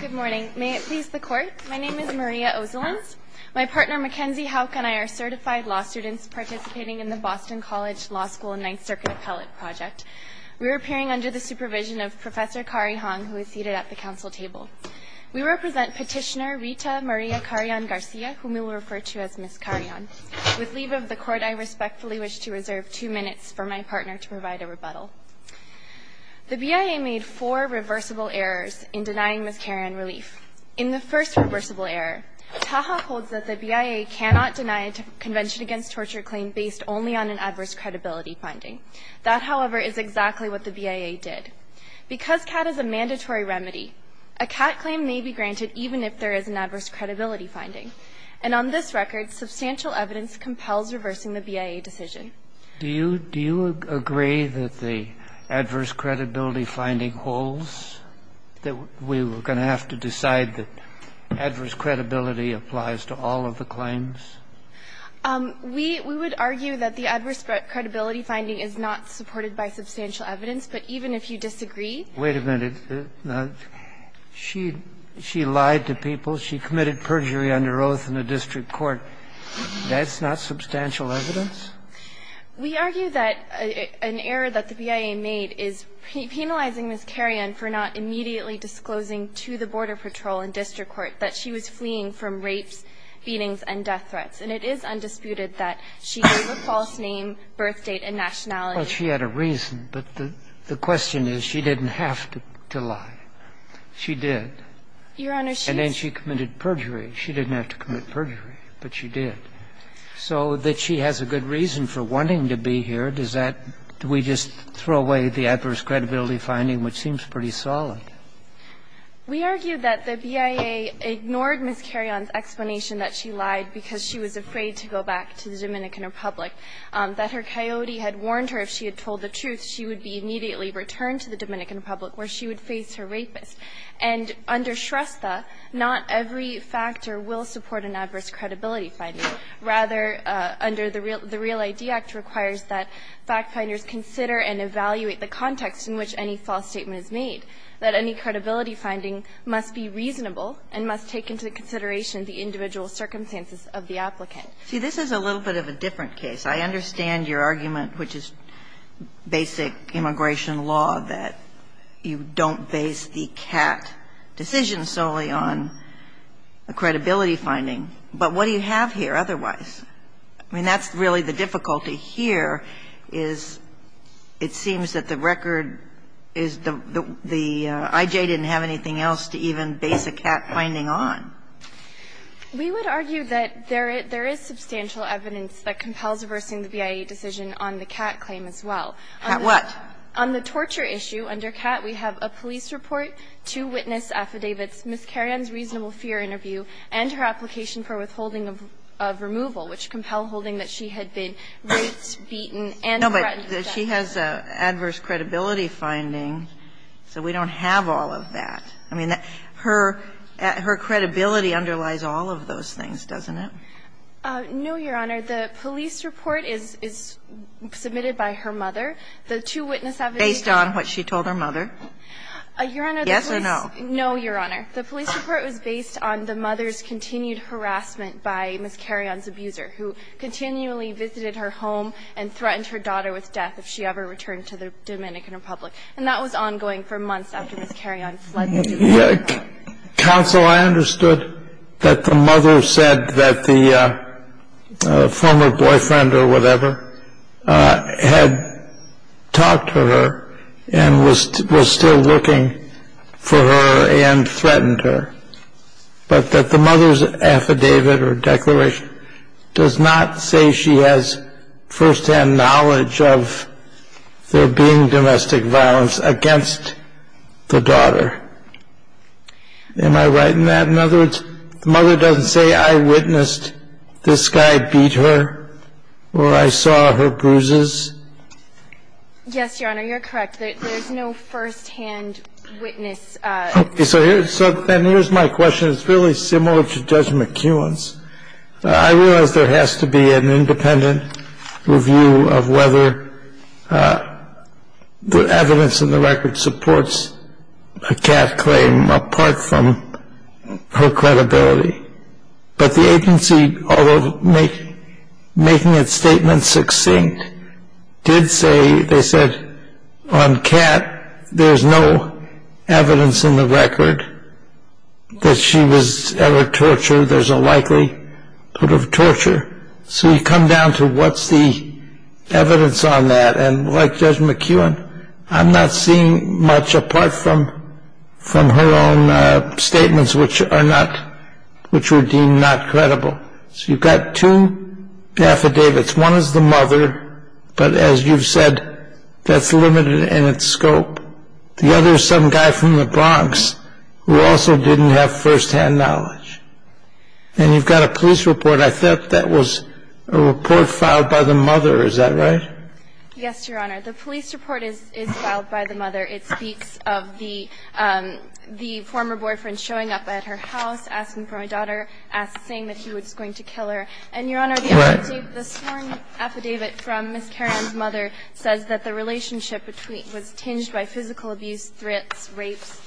Good morning. May it please the court, my name is Maria Ozolins. My partner, Mackenzie Houck, and I are certified law students participating in the Boston College Law School Ninth Circuit Appellate Project. We are appearing under the supervision of Professor Kari Hong, who is seated at the council table. We represent petitioner Rita Maria Carrion Garcia, whom we will refer to as Miss Carrion. With leave of the court, I respectfully wish to reserve two minutes for my partner to provide a rebuttal. The BIA made four reversible errors in denying Miss Carrion relief. In the first reversible error, Taha holds that the BIA cannot deny a Convention Against Torture claim based only on an adverse credibility finding. That, however, is exactly what the BIA did. Because CAT is a mandatory remedy, a CAT claim may be granted even if there is an adverse credibility finding. And on this record, substantial evidence compels reversing the BIA decision. Do you agree that the adverse credibility finding holds? That we were going to have to decide that adverse credibility applies to all of the claims? We would argue that the adverse credibility finding is not supported by substantial evidence, but even if you disagree. Wait a minute. She lied to people. She committed perjury under oath in a district court. That's not substantial evidence? We argue that an error that the BIA made is penalizing Miss Carrion for not immediately disclosing to the Border Patrol and district court that she was fleeing from rapes, beatings, and death threats. And it is undisputed that she gave a false name, birth date, and nationality. Well, she had a reason, but the question is, she didn't have to lie. Your Honor, she's just Your Honor, she committed perjury. She didn't have to commit perjury, but she did. So that she has a good reason for wanting to be here, does that do we just throw away the adverse credibility finding, which seems pretty solid? We argue that the BIA ignored Miss Carrion's explanation that she lied because she was afraid to go back to the Dominican Republic, that her coyote had warned her if she had told the truth, she would be immediately returned to the Dominican Republic, where she would face her rapist. And under Shrestha, not every factor will support an adverse credibility finding. Rather, under the Real ID Act requires that fact finders consider and evaluate the context in which any false statement is made, that any credibility finding must be reasonable and must take into consideration the individual circumstances of the applicant. See, this is a little bit of a different case. I understand your argument, which is basic immigration law, that you don't base the C.A.T. decision solely on a credibility finding, but what do you have here otherwise? I mean, that's really the difficulty here, is it seems that the record is the IJ didn't have anything else to even base a C.A.T. finding on. We would argue that there is substantial evidence that compels reversing the BIA decision on the C.A.T. claim as well. What? On the torture issue, under C.A.T., we have a police report, two witness affidavits, Ms. Kerian's reasonable fear interview, and her application for withholding of removal, which compel holding that she had been raped, beaten, and threatened with death. No, but she has adverse credibility finding, so we don't have all of that. I mean, her credibility underlies all of those things, doesn't it? No, Your Honor. The police report is submitted by her mother. The two witness affidavits are based on what she told her mother. Your Honor, the police no, Your Honor. The police report was based on the mother's continued harassment by Ms. Kerian's abuser, who continually visited her home and threatened her daughter with death if she ever returned to the Dominican Republic. And that was ongoing for months after Ms. Kerian fled the Dominican Republic. Counsel, I understood that the mother said that the former boyfriend or whatever had talked to her and was still looking for her and threatened her, but that the mother's affidavit or declaration does not say she has first-hand knowledge of there being domestic violence against the daughter. Am I right in that? In other words, the mother doesn't say, I witnessed this guy beat her, or I saw her bruises? Yes, Your Honor, you're correct. There's no first-hand witness. Okay, so then here's my question. It's really similar to Judge McEwan's. I realize there has to be an independent review of whether the evidence and the record supports a cat claim apart from her credibility. But the agency, although making its statement succinct, did say, they said, on cat, there's no evidence in the record that she was ever tortured. There's a likelihood of torture. So you come down to what's the evidence on that. And like Judge McEwan, I'm not seeing much apart from her own statements which were deemed not credible. So you've got two affidavits. One is the mother, but as you've said, that's limited in its scope. The other is some guy from the Bronx who also didn't have first-hand knowledge. And you've got a police report. I thought that was a report filed by the mother, is that right? It's not a report filed by the mother, it speaks of the former boyfriend showing up at her house, asking for my daughter, saying that he was going to kill her. And, Your Honor, the sworn affidavit from Ms. Caron's mother says that the relationship was tinged by physical abuse, threats, rapes,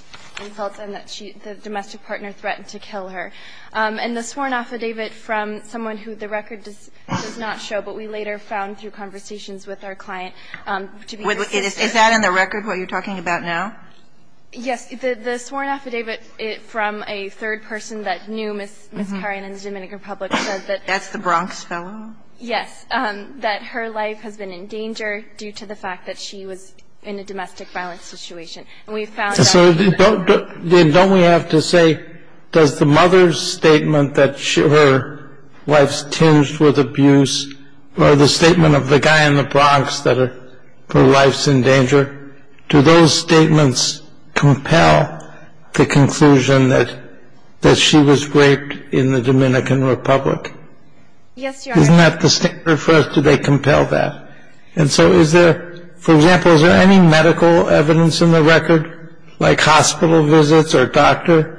insults, and that the domestic partner threatened to kill her. And the sworn affidavit from someone who the record does not show, but we later found through conversations with our client, to be the same. Is that in the record what you're talking about now? Yes. The sworn affidavit from a third person that knew Ms. Caron in the Dominican Republic said that the Bronx fellow, yes, that her life has been in danger due to the fact that she was in a domestic violence situation. And we've found out that the mother's statement that her wife's tinged with abuse or the statement of the guy in the Bronx that her life's in danger, do those statements compel the conclusion that she was raped in the Dominican Republic? Yes, Your Honor. Isn't that the statement for us? Do they compel that? And so is there, for example, is there any medical evidence in the record, like hospital visits or doctor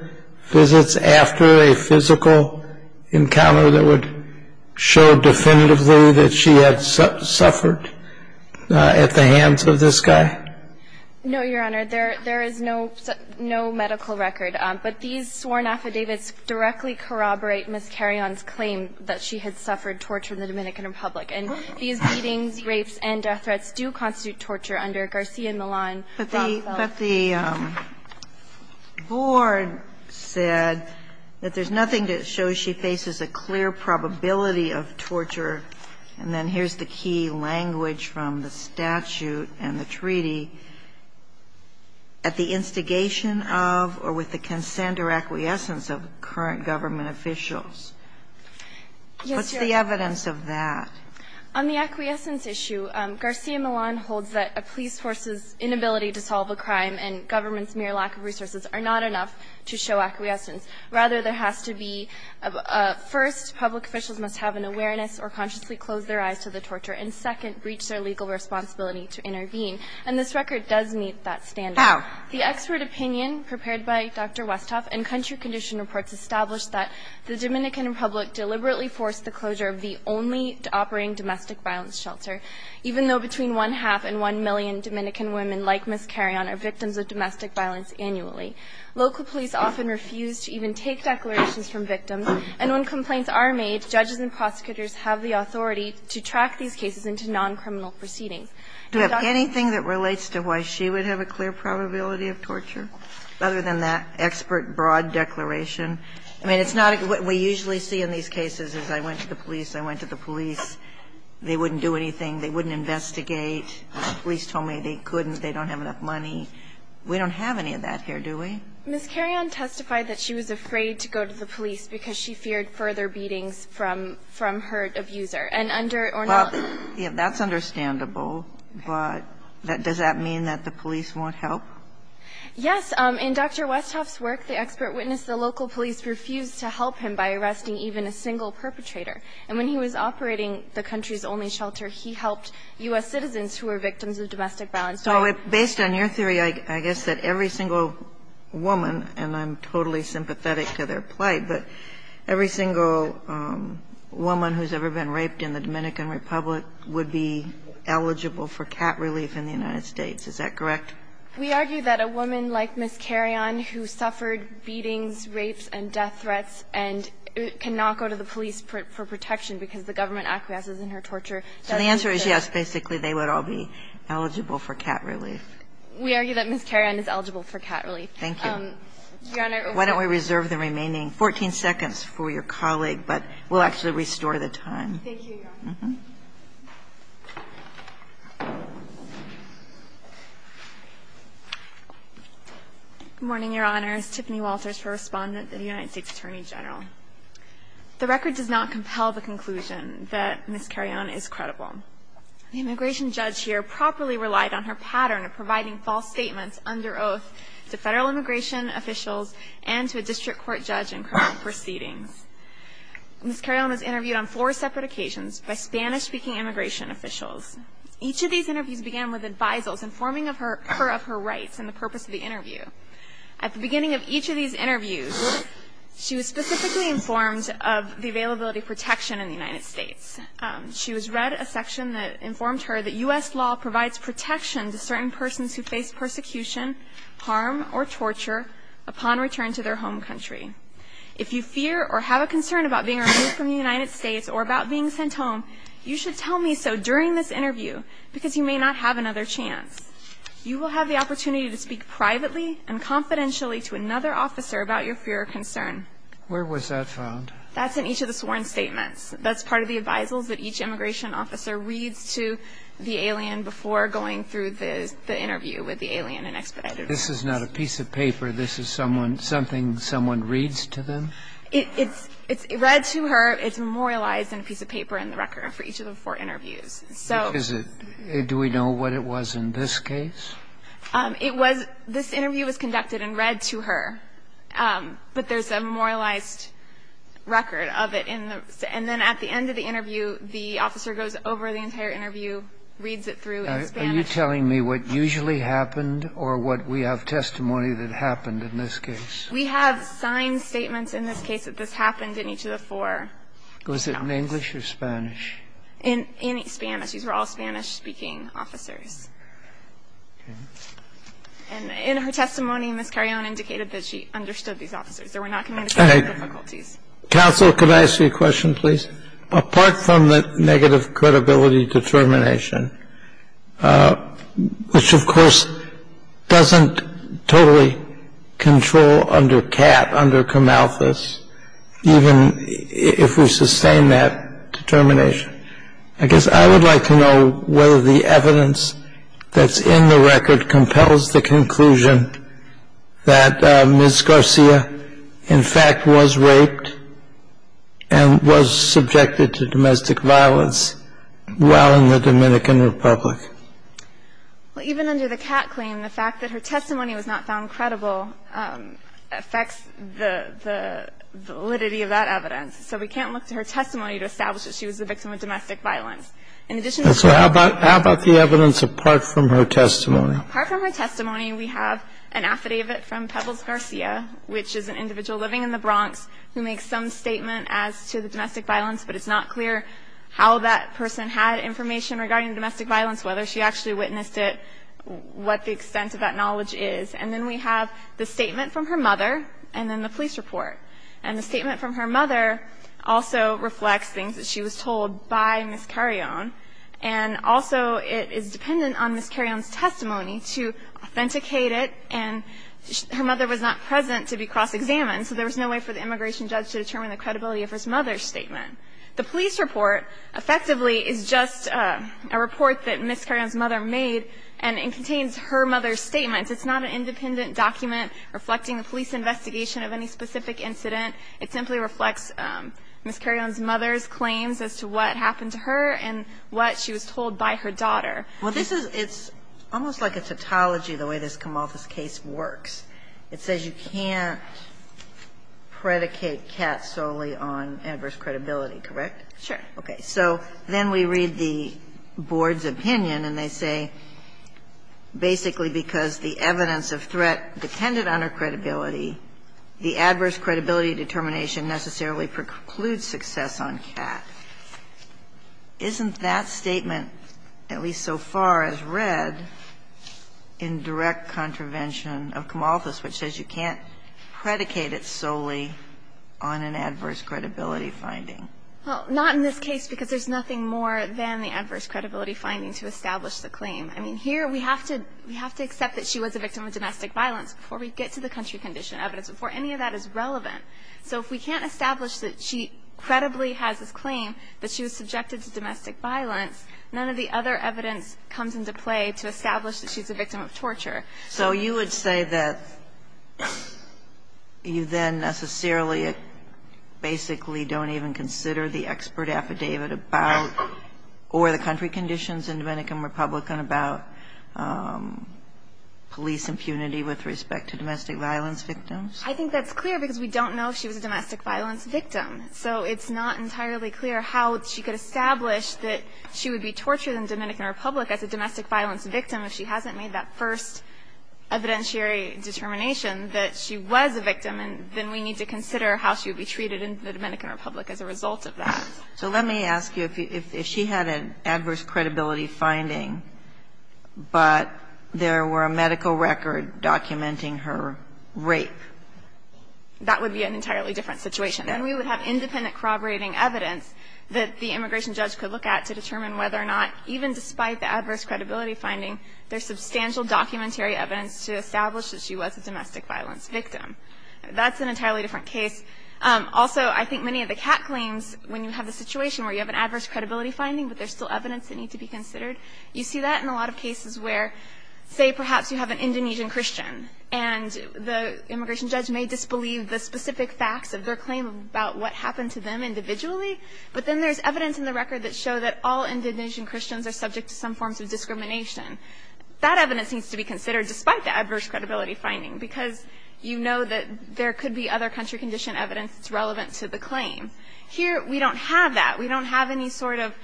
visits after a physical encounter that would show definitively that she had suffered at the hands of this guy? No, Your Honor. There is no medical record, but these sworn affidavits directly corroborate Ms. Caron's claim that she had suffered torture in the Dominican Republic. And these beatings, rapes, and death threats do constitute torture under Garcia Millan. But the board said that there's nothing that shows she faces a clear probability of torture, and then here's the key language from the statute and the treaty, at the instigation of or with the consent or acquiescence of current government officials. What's the evidence of that? On the acquiescence issue, Garcia Millan holds that a police force's inability to solve a crime and government's mere lack of resources are not enough to show acquiescence. Rather, there has to be, first, public officials must have an awareness or consciously close their eyes to the torture, and second, breach their legal responsibility to intervene. And this record does meet that standard. How? The expert opinion prepared by Dr. Westhoff and country condition reports establish that the Dominican Republic deliberately forced the closure of the only operating domestic violence shelter, even though between one-half and one-million Dominican women like Ms. Caron are victims of domestic violence annually. Local police often refuse to even take declarations from victims, and when complaints are made, judges and prosecutors have the authority to track these cases into non-criminal proceedings. Do we have anything that relates to why she would have a clear probability of torture, other than that expert, broad declaration? I mean, it's not what we usually see in these cases is I went to the police, I went to the police, they wouldn't do anything, they wouldn't investigate. The police told me they couldn't, they don't have enough money. We don't have any of that here, do we? Ms. Caron testified that she was afraid to go to the police because she feared further beatings from her abuser, and under or not. Well, that's understandable, but does that mean that the police won't help? Yes. In Dr. Westhoff's work, the expert witnessed the local police refuse to help him by arresting even a single perpetrator, and when he was operating the country's only shelter, he helped U.S. citizens who were victims of domestic violence. So based on your theory, I guess that every single woman, and I'm totally sympathetic to their plight, but every single woman who's ever been raped in the Dominican Republic would be eligible for cat relief in the United States, is that correct? We argue that a woman like Ms. Caron, who suffered beatings, rapes, and death threats, and cannot go to the police for protection because the government acquiesces in her torture. So the answer is yes, basically, they would all be eligible for cat relief. We argue that Ms. Caron is eligible for cat relief. Thank you. Your Honor. Why don't we reserve the remaining 14 seconds for your colleague, but we'll actually restore the time. Thank you, Your Honor. Good morning, Your Honors. Tiffany Walters for Respondent of the United States Attorney General. The record does not compel the conclusion that Ms. Caron is credible. The immigration judge here properly relied on her pattern of providing false statements under oath to Federal immigration officials and to a district court judge in criminal proceedings. Ms. Caron was interviewed on four separate occasions by Spanish-speaking immigration officials. Each of these interviews began with advisals informing her of her rights and the purpose of the interview. At the beginning of each of these interviews, she was specifically informed of the availability of protection in the United States. She was read a section that informed her that U.S. law provides protection to certain persons who face persecution, harm, or torture upon return to their home country. If you fear or have a concern about being removed from the United States or about being sent home, you should tell me so during this interview because you may not have another chance. You will have the opportunity to speak privately and confidentially to another officer about your fear or concern. Where was that found? That's in each of the sworn statements. That's part of the advisals that each immigration officer reads to the alien before going through the interview with the alien and expedited. This is not a piece of paper. This is something someone reads to them? It's read to her. It's memorialized in a piece of paper in the record for each of the four interviews. So do we know what it was in this case? It was this interview was conducted and read to her. But there's a memorialized record of it. And then at the end of the interview, the officer goes over the entire interview, reads it through in Spanish. Are you telling me what usually happened or what we have testimony that happened in this case? We have signed statements in this case that this happened in each of the four. Was it in English or Spanish? In Spanish. These were all Spanish-speaking officers. Okay. And in her testimony, Ms. Carreon indicated that she understood these officers. There were not communication difficulties. Counsel, could I ask you a question, please? Apart from the negative credibility determination, which, of course, doesn't totally control under CAP, under COMALFIS, even if we sustain that determination, I guess I would like to know whether the evidence that's in the record compels the conclusion that Ms. Garcia, in fact, was raped and was subjected to domestic violence while in the Dominican Republic. Well, even under the CAT claim, the fact that her testimony was not found credible affects the validity of that evidence. So we can't look to her testimony to establish that she was the victim of domestic violence. In addition to that. So how about the evidence apart from her testimony? Apart from her testimony, we have an affidavit from Pebbles Garcia, which is an individual living in the Bronx who makes some statement as to the domestic violence, but it's not clear how that person had information regarding domestic violence, whether she actually witnessed it, what the extent of that knowledge is. And then we have the statement from her mother and then the police report. And the statement from her mother also reflects things that she was told by Ms. Carreon, and also it is dependent on Ms. Carreon's testimony to authenticate it. And her mother was not present to be cross-examined, so there was no way for the immigration judge to determine the credibility of her mother's statement. The police report, effectively, is just a report that Ms. Carreon's mother made, and it contains her mother's statements. It's not an independent document reflecting the police investigation of any specific incident. It simply reflects Ms. Carreon's mother's claims as to what happened to her and what she was told by her daughter. Well, this is almost like a tautology, the way this Camalthus case works. It says you can't predicate Katz solely on adverse credibility, correct? Sure. Okay. So then we read the board's opinion, and they say basically because the evidence of threat depended on her credibility, the adverse credibility determination necessarily precludes success on Katz. Isn't that statement, at least so far as read, in direct contravention of Camalthus, which says you can't predicate it solely on an adverse credibility finding? Well, not in this case, because there's nothing more than the adverse credibility finding to establish the claim. I mean, here we have to accept that she was a victim of domestic violence before we get to the country condition evidence, before any of that is relevant. So if we can't establish that she credibly has this claim, that she was subjected to domestic violence, none of the other evidence comes into play to establish that she's a victim of torture. So you would say that you then necessarily basically don't even consider the expert affidavit about, or the country conditions in Dominican Republic about police impunity with respect to domestic violence victims? I think that's clear, because we don't know if she was a domestic violence victim. So it's not entirely clear how she could establish that she would be tortured in Dominican Republic as a domestic violence victim if she hasn't made that first evidentiary determination that she was a victim. And then we need to consider how she would be treated in the Dominican Republic as a result of that. So let me ask you, if she had an adverse credibility finding, but there were a medical record documenting her rape. That would be an entirely different situation. And we would have independent corroborating evidence that the immigration judge could look at to determine whether or not, even despite the adverse credibility finding, there's substantial documentary evidence to establish that she was a domestic violence victim. That's an entirely different case. Also, I think many of the CAT claims, when you have a situation where you have an adverse credibility finding, but there's still evidence that needs to be considered, you see that in a lot of cases where, say, perhaps you have an Indonesian Christian, and the immigration judge may disbelieve the specific facts of their claim about what happened to them individually. But then there's evidence in the record that show that all Indonesian Christians are subject to some forms of discrimination. That evidence needs to be considered, despite the adverse credibility finding, because you know that there could be other country condition evidence that's relevant to the claim. Here, we don't have that. We don't have any sort of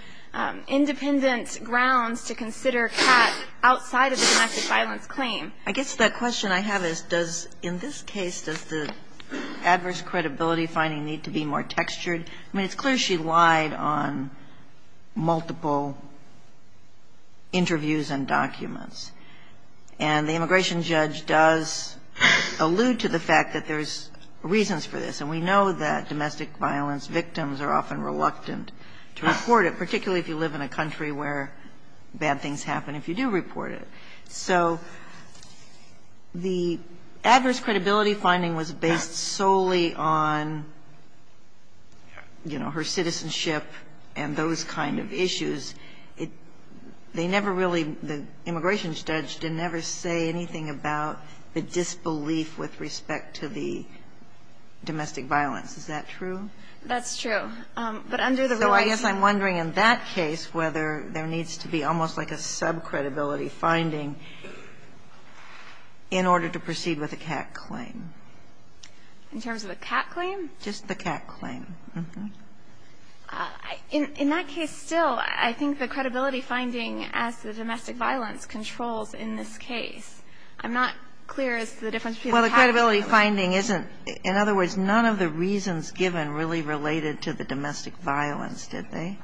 independent grounds to consider CAT outside of the domestic violence claim. Kagan. I guess the question I have is, does the adverse credibility finding need to be more textured? I mean, it's clear she lied on multiple interviews and documents. And the immigration judge does allude to the fact that there's reasons for this. And we know that domestic violence victims are often reluctant to report it, particularly if you live in a country where bad things happen if you do report it. So the adverse credibility finding was based solely on, you know, her citizenship and those kind of issues. It they never really, the immigration judge didn't ever say anything about the disbelief with respect to the domestic violence. Is that true? That's true. But under the rule, I think. So I guess I'm wondering in that case whether there needs to be almost like a subcredibility finding in order to proceed with a CAT claim. In terms of a CAT claim? Just the CAT claim. Mm-hmm. In that case, still, I think the credibility finding as the domestic violence controls in this case. I'm not clear as to the difference between the CAT claim. Well, the credibility finding isn't, in other words, none of the reasons given really related to the domestic violence, did they?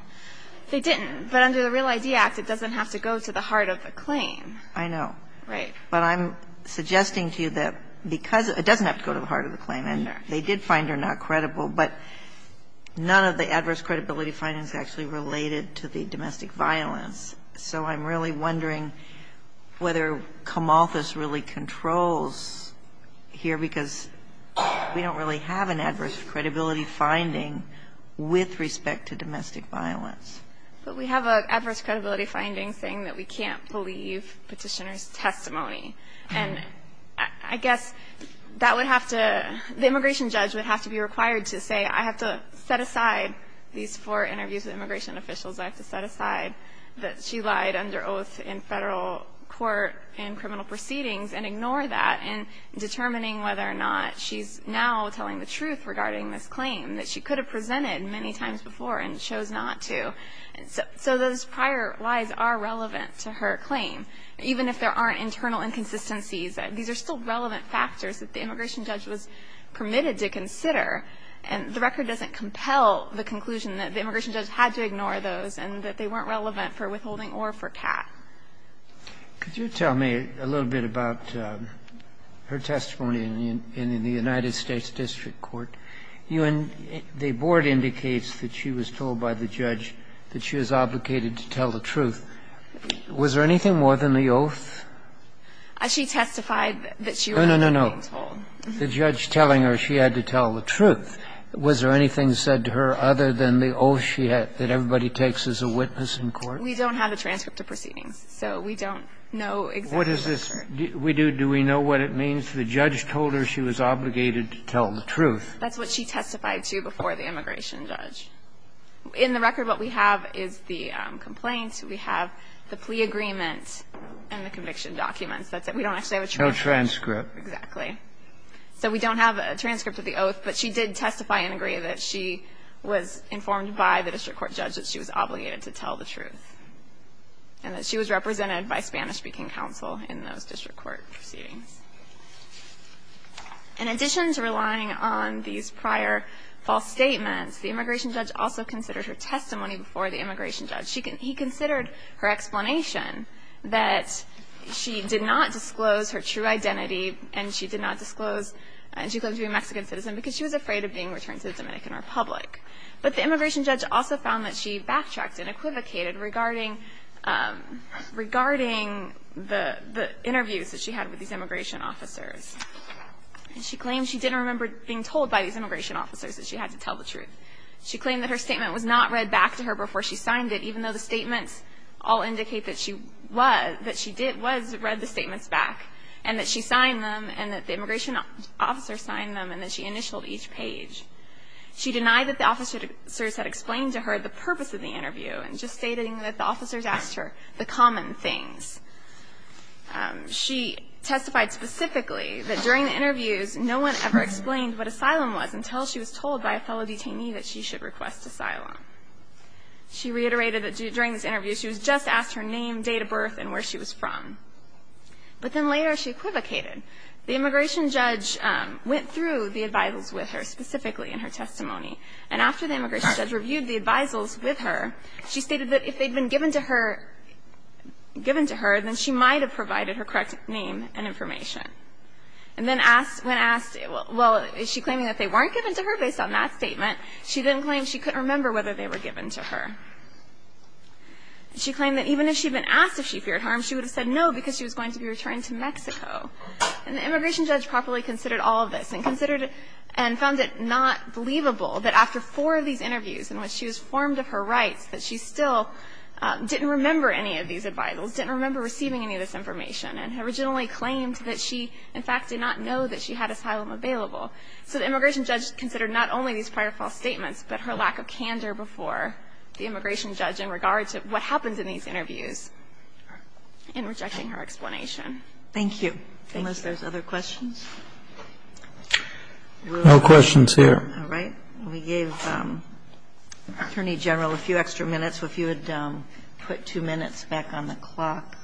They didn't. But under the Real ID Act, it doesn't have to go to the heart of the claim. I know. Right. But I'm suggesting to you that because it doesn't have to go to the heart of the claim and they did find her not credible, but none of the adverse credibility findings actually related to the domestic violence. So I'm really wondering whether Camalthus really controls here because we don't really have an adverse credibility finding with respect to domestic violence. But we have an adverse credibility finding saying that we can't believe Petitioner's testimony. And I guess that would have to – the immigration judge would have to be required to say, I have to set aside these four interviews with immigration officials, I have to set aside that she lied under oath in Federal court in criminal proceedings and ignore that, and determining whether or not she's now telling the truth regarding this claim that she could have presented many times before and chose not to. So those prior lies are relevant to her claim. Even if there aren't internal inconsistencies, these are still relevant factors that the immigration judge was permitted to consider. And the record doesn't compel the conclusion that the immigration judge had to ignore those and that they weren't relevant for withholding or for cat. Could you tell me a little bit about her testimony in the United States district court? You – the board indicates that she was told by the judge that she was obligated to tell the truth. Was there anything more than the oath? She testified that she was being told. No, no, no. The judge telling her she had to tell the truth. Was there anything said to her other than the oath she had, that everybody takes as a witness in court? We don't have a transcript of proceedings. So we don't know exactly what occurred. What is this? Do we know what it means? If the judge told her she was obligated to tell the truth. That's what she testified to before the immigration judge. In the record, what we have is the complaint. We have the plea agreement and the conviction documents. That's it. We don't actually have a transcript. No transcript. Exactly. So we don't have a transcript of the oath, but she did testify and agree that she was informed by the district court judge that she was obligated to tell the truth and that she was represented by Spanish-speaking counsel in those district court proceedings. In addition to relying on these prior false statements, the immigration judge also considered her testimony before the immigration judge. He considered her explanation that she did not disclose her true identity and she did not disclose she claims to be a Mexican citizen because she was afraid of being returned to the Dominican Republic. But the immigration judge also found that she backtracked and equivocated regarding the interviews that she had with these immigration officers. And she claimed she didn't remember being told by these immigration officers that she had to tell the truth. She claimed that her statement was not read back to her before she signed it, even though the statements all indicate that she was, that she did, was read the statements back and that she signed them and that the immigration officer signed them and that she initialed each page. She denied that the officers had explained to her the purpose of the interview and just stating that the officers asked her the common things. She testified specifically that during the interviews no one ever explained what asylum was until she was told by a fellow detainee that she should request asylum. She reiterated that during this interview she was just asked her name, date of birth and where she was from. But then later she equivocated. The immigration judge went through the advisals with her specifically in her testimony and after the immigration judge reviewed the advisals with her, she stated that if they had been given to her, given to her, then she might have provided her correct name and information. And then when asked, well, is she claiming that they weren't given to her based on that statement? She then claimed she couldn't remember whether they were given to her. She claimed that even if she had been asked if she feared harm, she would have said no because she was going to be returning to Mexico. And the immigration judge properly considered all of this and considered and found it not believable that after four of these interviews in which she was formed of her rights that she still didn't remember any of these advisals, didn't remember receiving any of this information, and originally claimed that she, in fact, did not know that she had asylum available. So the immigration judge considered not only these prior false statements, but her lack of candor before the immigration judge in regards to what happens in these interviews in rejecting her explanation. Thank you. Unless there's other questions. No questions here. All right. We gave Attorney General a few extra minutes. If you would put two minutes back on the clock,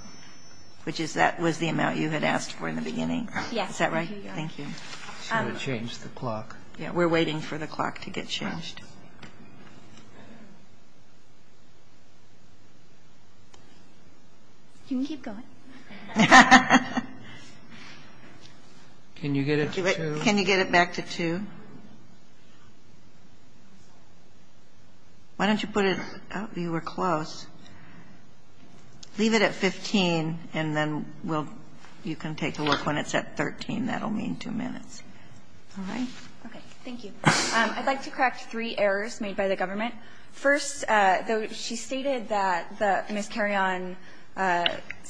which is that was the amount you had asked for in the beginning. Yes. Is that right? Thank you. She would change the clock. Yes. We're waiting for the clock to get changed. You can keep going. Can you get it to 2? Can you get it back to 2? Why don't you put it up? You were close. Leave it at 15, and then we'll you can take a look when it's at 13. That will mean two minutes. All right. Okay. Thank you. I'd like to correct three errors made by the government. First, though, she stated that Ms. Carrion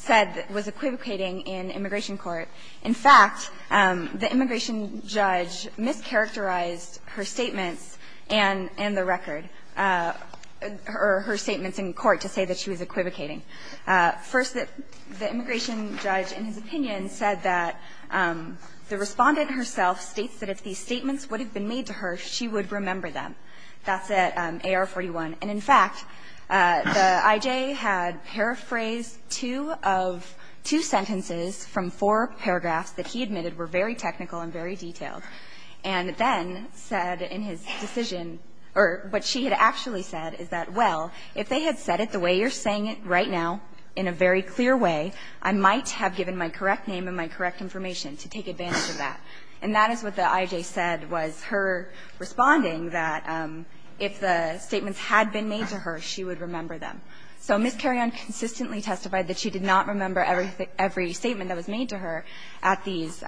said was equivocating in immigration court. In fact, the immigration judge mischaracterized her statements and the record, or her statements in court, to say that she was equivocating. First, the immigration judge, in his opinion, said that the Respondent herself states that if these statements would have been made to her, she would remember them. That's at AR-41. And, in fact, the IJ had paraphrased two sentences from four paragraphs that he admitted were very technical and very detailed, and then said in his decision or what she had actually said is that, well, if they had said it the way you're saying it right now, in a very clear way, I might have given my correct name and my correct information to take advantage of that. And that is what the IJ said was her responding that if the statements had been made to her, she would remember them. So Ms. Carrion consistently testified that she did not remember every statement that was made to her at these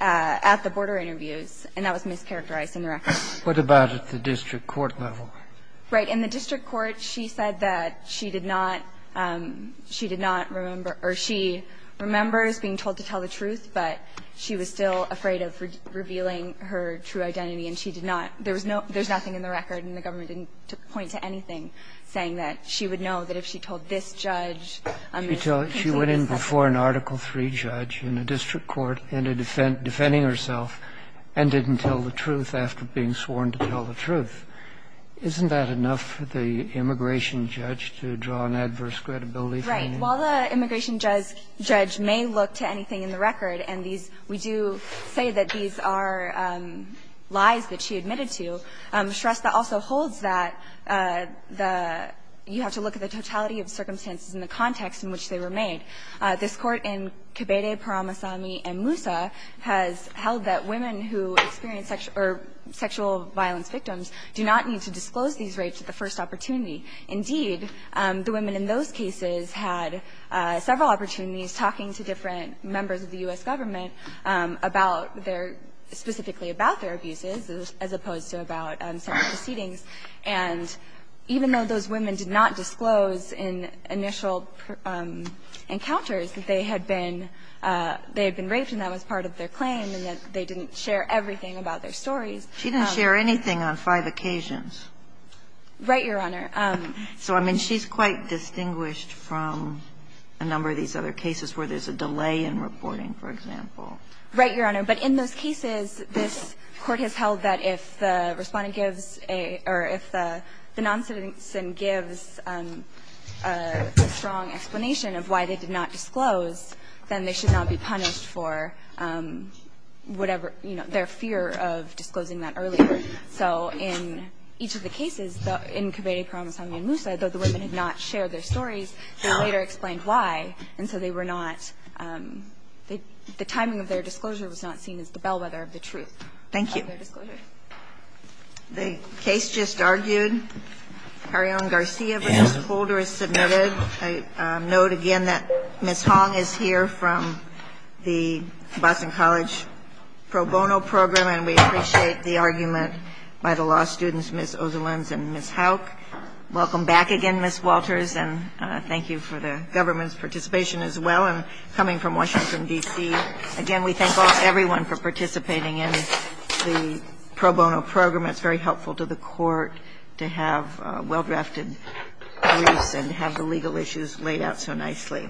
at the border interviews, and that was mischaracterized in the record. What about at the district court level? Right. In the district court, she said that she did not, she did not remember or she remembers being told to tell the truth, but she was still afraid of revealing her true identity and she did not. There was no, there's nothing in the record and the government didn't point to anything saying that she would know that if she told this judge, Ms. Carrion did not know. She went in before an Article III judge in a district court, ended up defending herself and didn't tell the truth after being sworn to tell the truth. Isn't that enough for the immigration judge to draw an adverse credibility from you? Right. While the immigration judge may look to anything in the record, and these, we do say that these are lies that she admitted to, Shrestha also holds that the, you have to look at the totality of circumstances and the context in which they were made. This Court in Kibede, Paramasami, and Musa has held that women who experience sexual violence victims do not need to disclose these rapes at the first opportunity. Indeed, the women in those cases had several opportunities talking to different members of the U.S. Government about their, specifically about their abuses as opposed to about sexual proceedings, and even though those women did not disclose in initial encounters that they had been raped and that was part of their claim and that they didn't share everything about their stories. She didn't share anything on five occasions. Right, Your Honor. So, I mean, she's quite distinguished from a number of these other cases where there's a delay in reporting, for example. Right, Your Honor. But in those cases, this Court has held that if the Respondent gives a, or if the noncitizen gives a strong explanation of why they did not disclose, then they should not be punished for whatever, you know, their fear of disclosing that earlier. So in each of the cases, in Cabrera, Parra, Monsanto and Musa, though the women had not shared their stories, they later explained why, and so they were not, the timing of their disclosure was not seen as the bellwether of the truth. Thank you. The case just argued. Carreon Garcia versus Holder is submitted. I note again that Ms. Hong is here from the Boston College pro bono program, and we appreciate the argument by the law students, Ms. Ozolins and Ms. Houck. Welcome back again, Ms. Walters, and thank you for the government's participation as well, and coming from Washington, D.C. Again, we thank everyone for participating in the pro bono program. It's very helpful to the Court to have well-drafted briefs and have the legal issues laid out so nicely.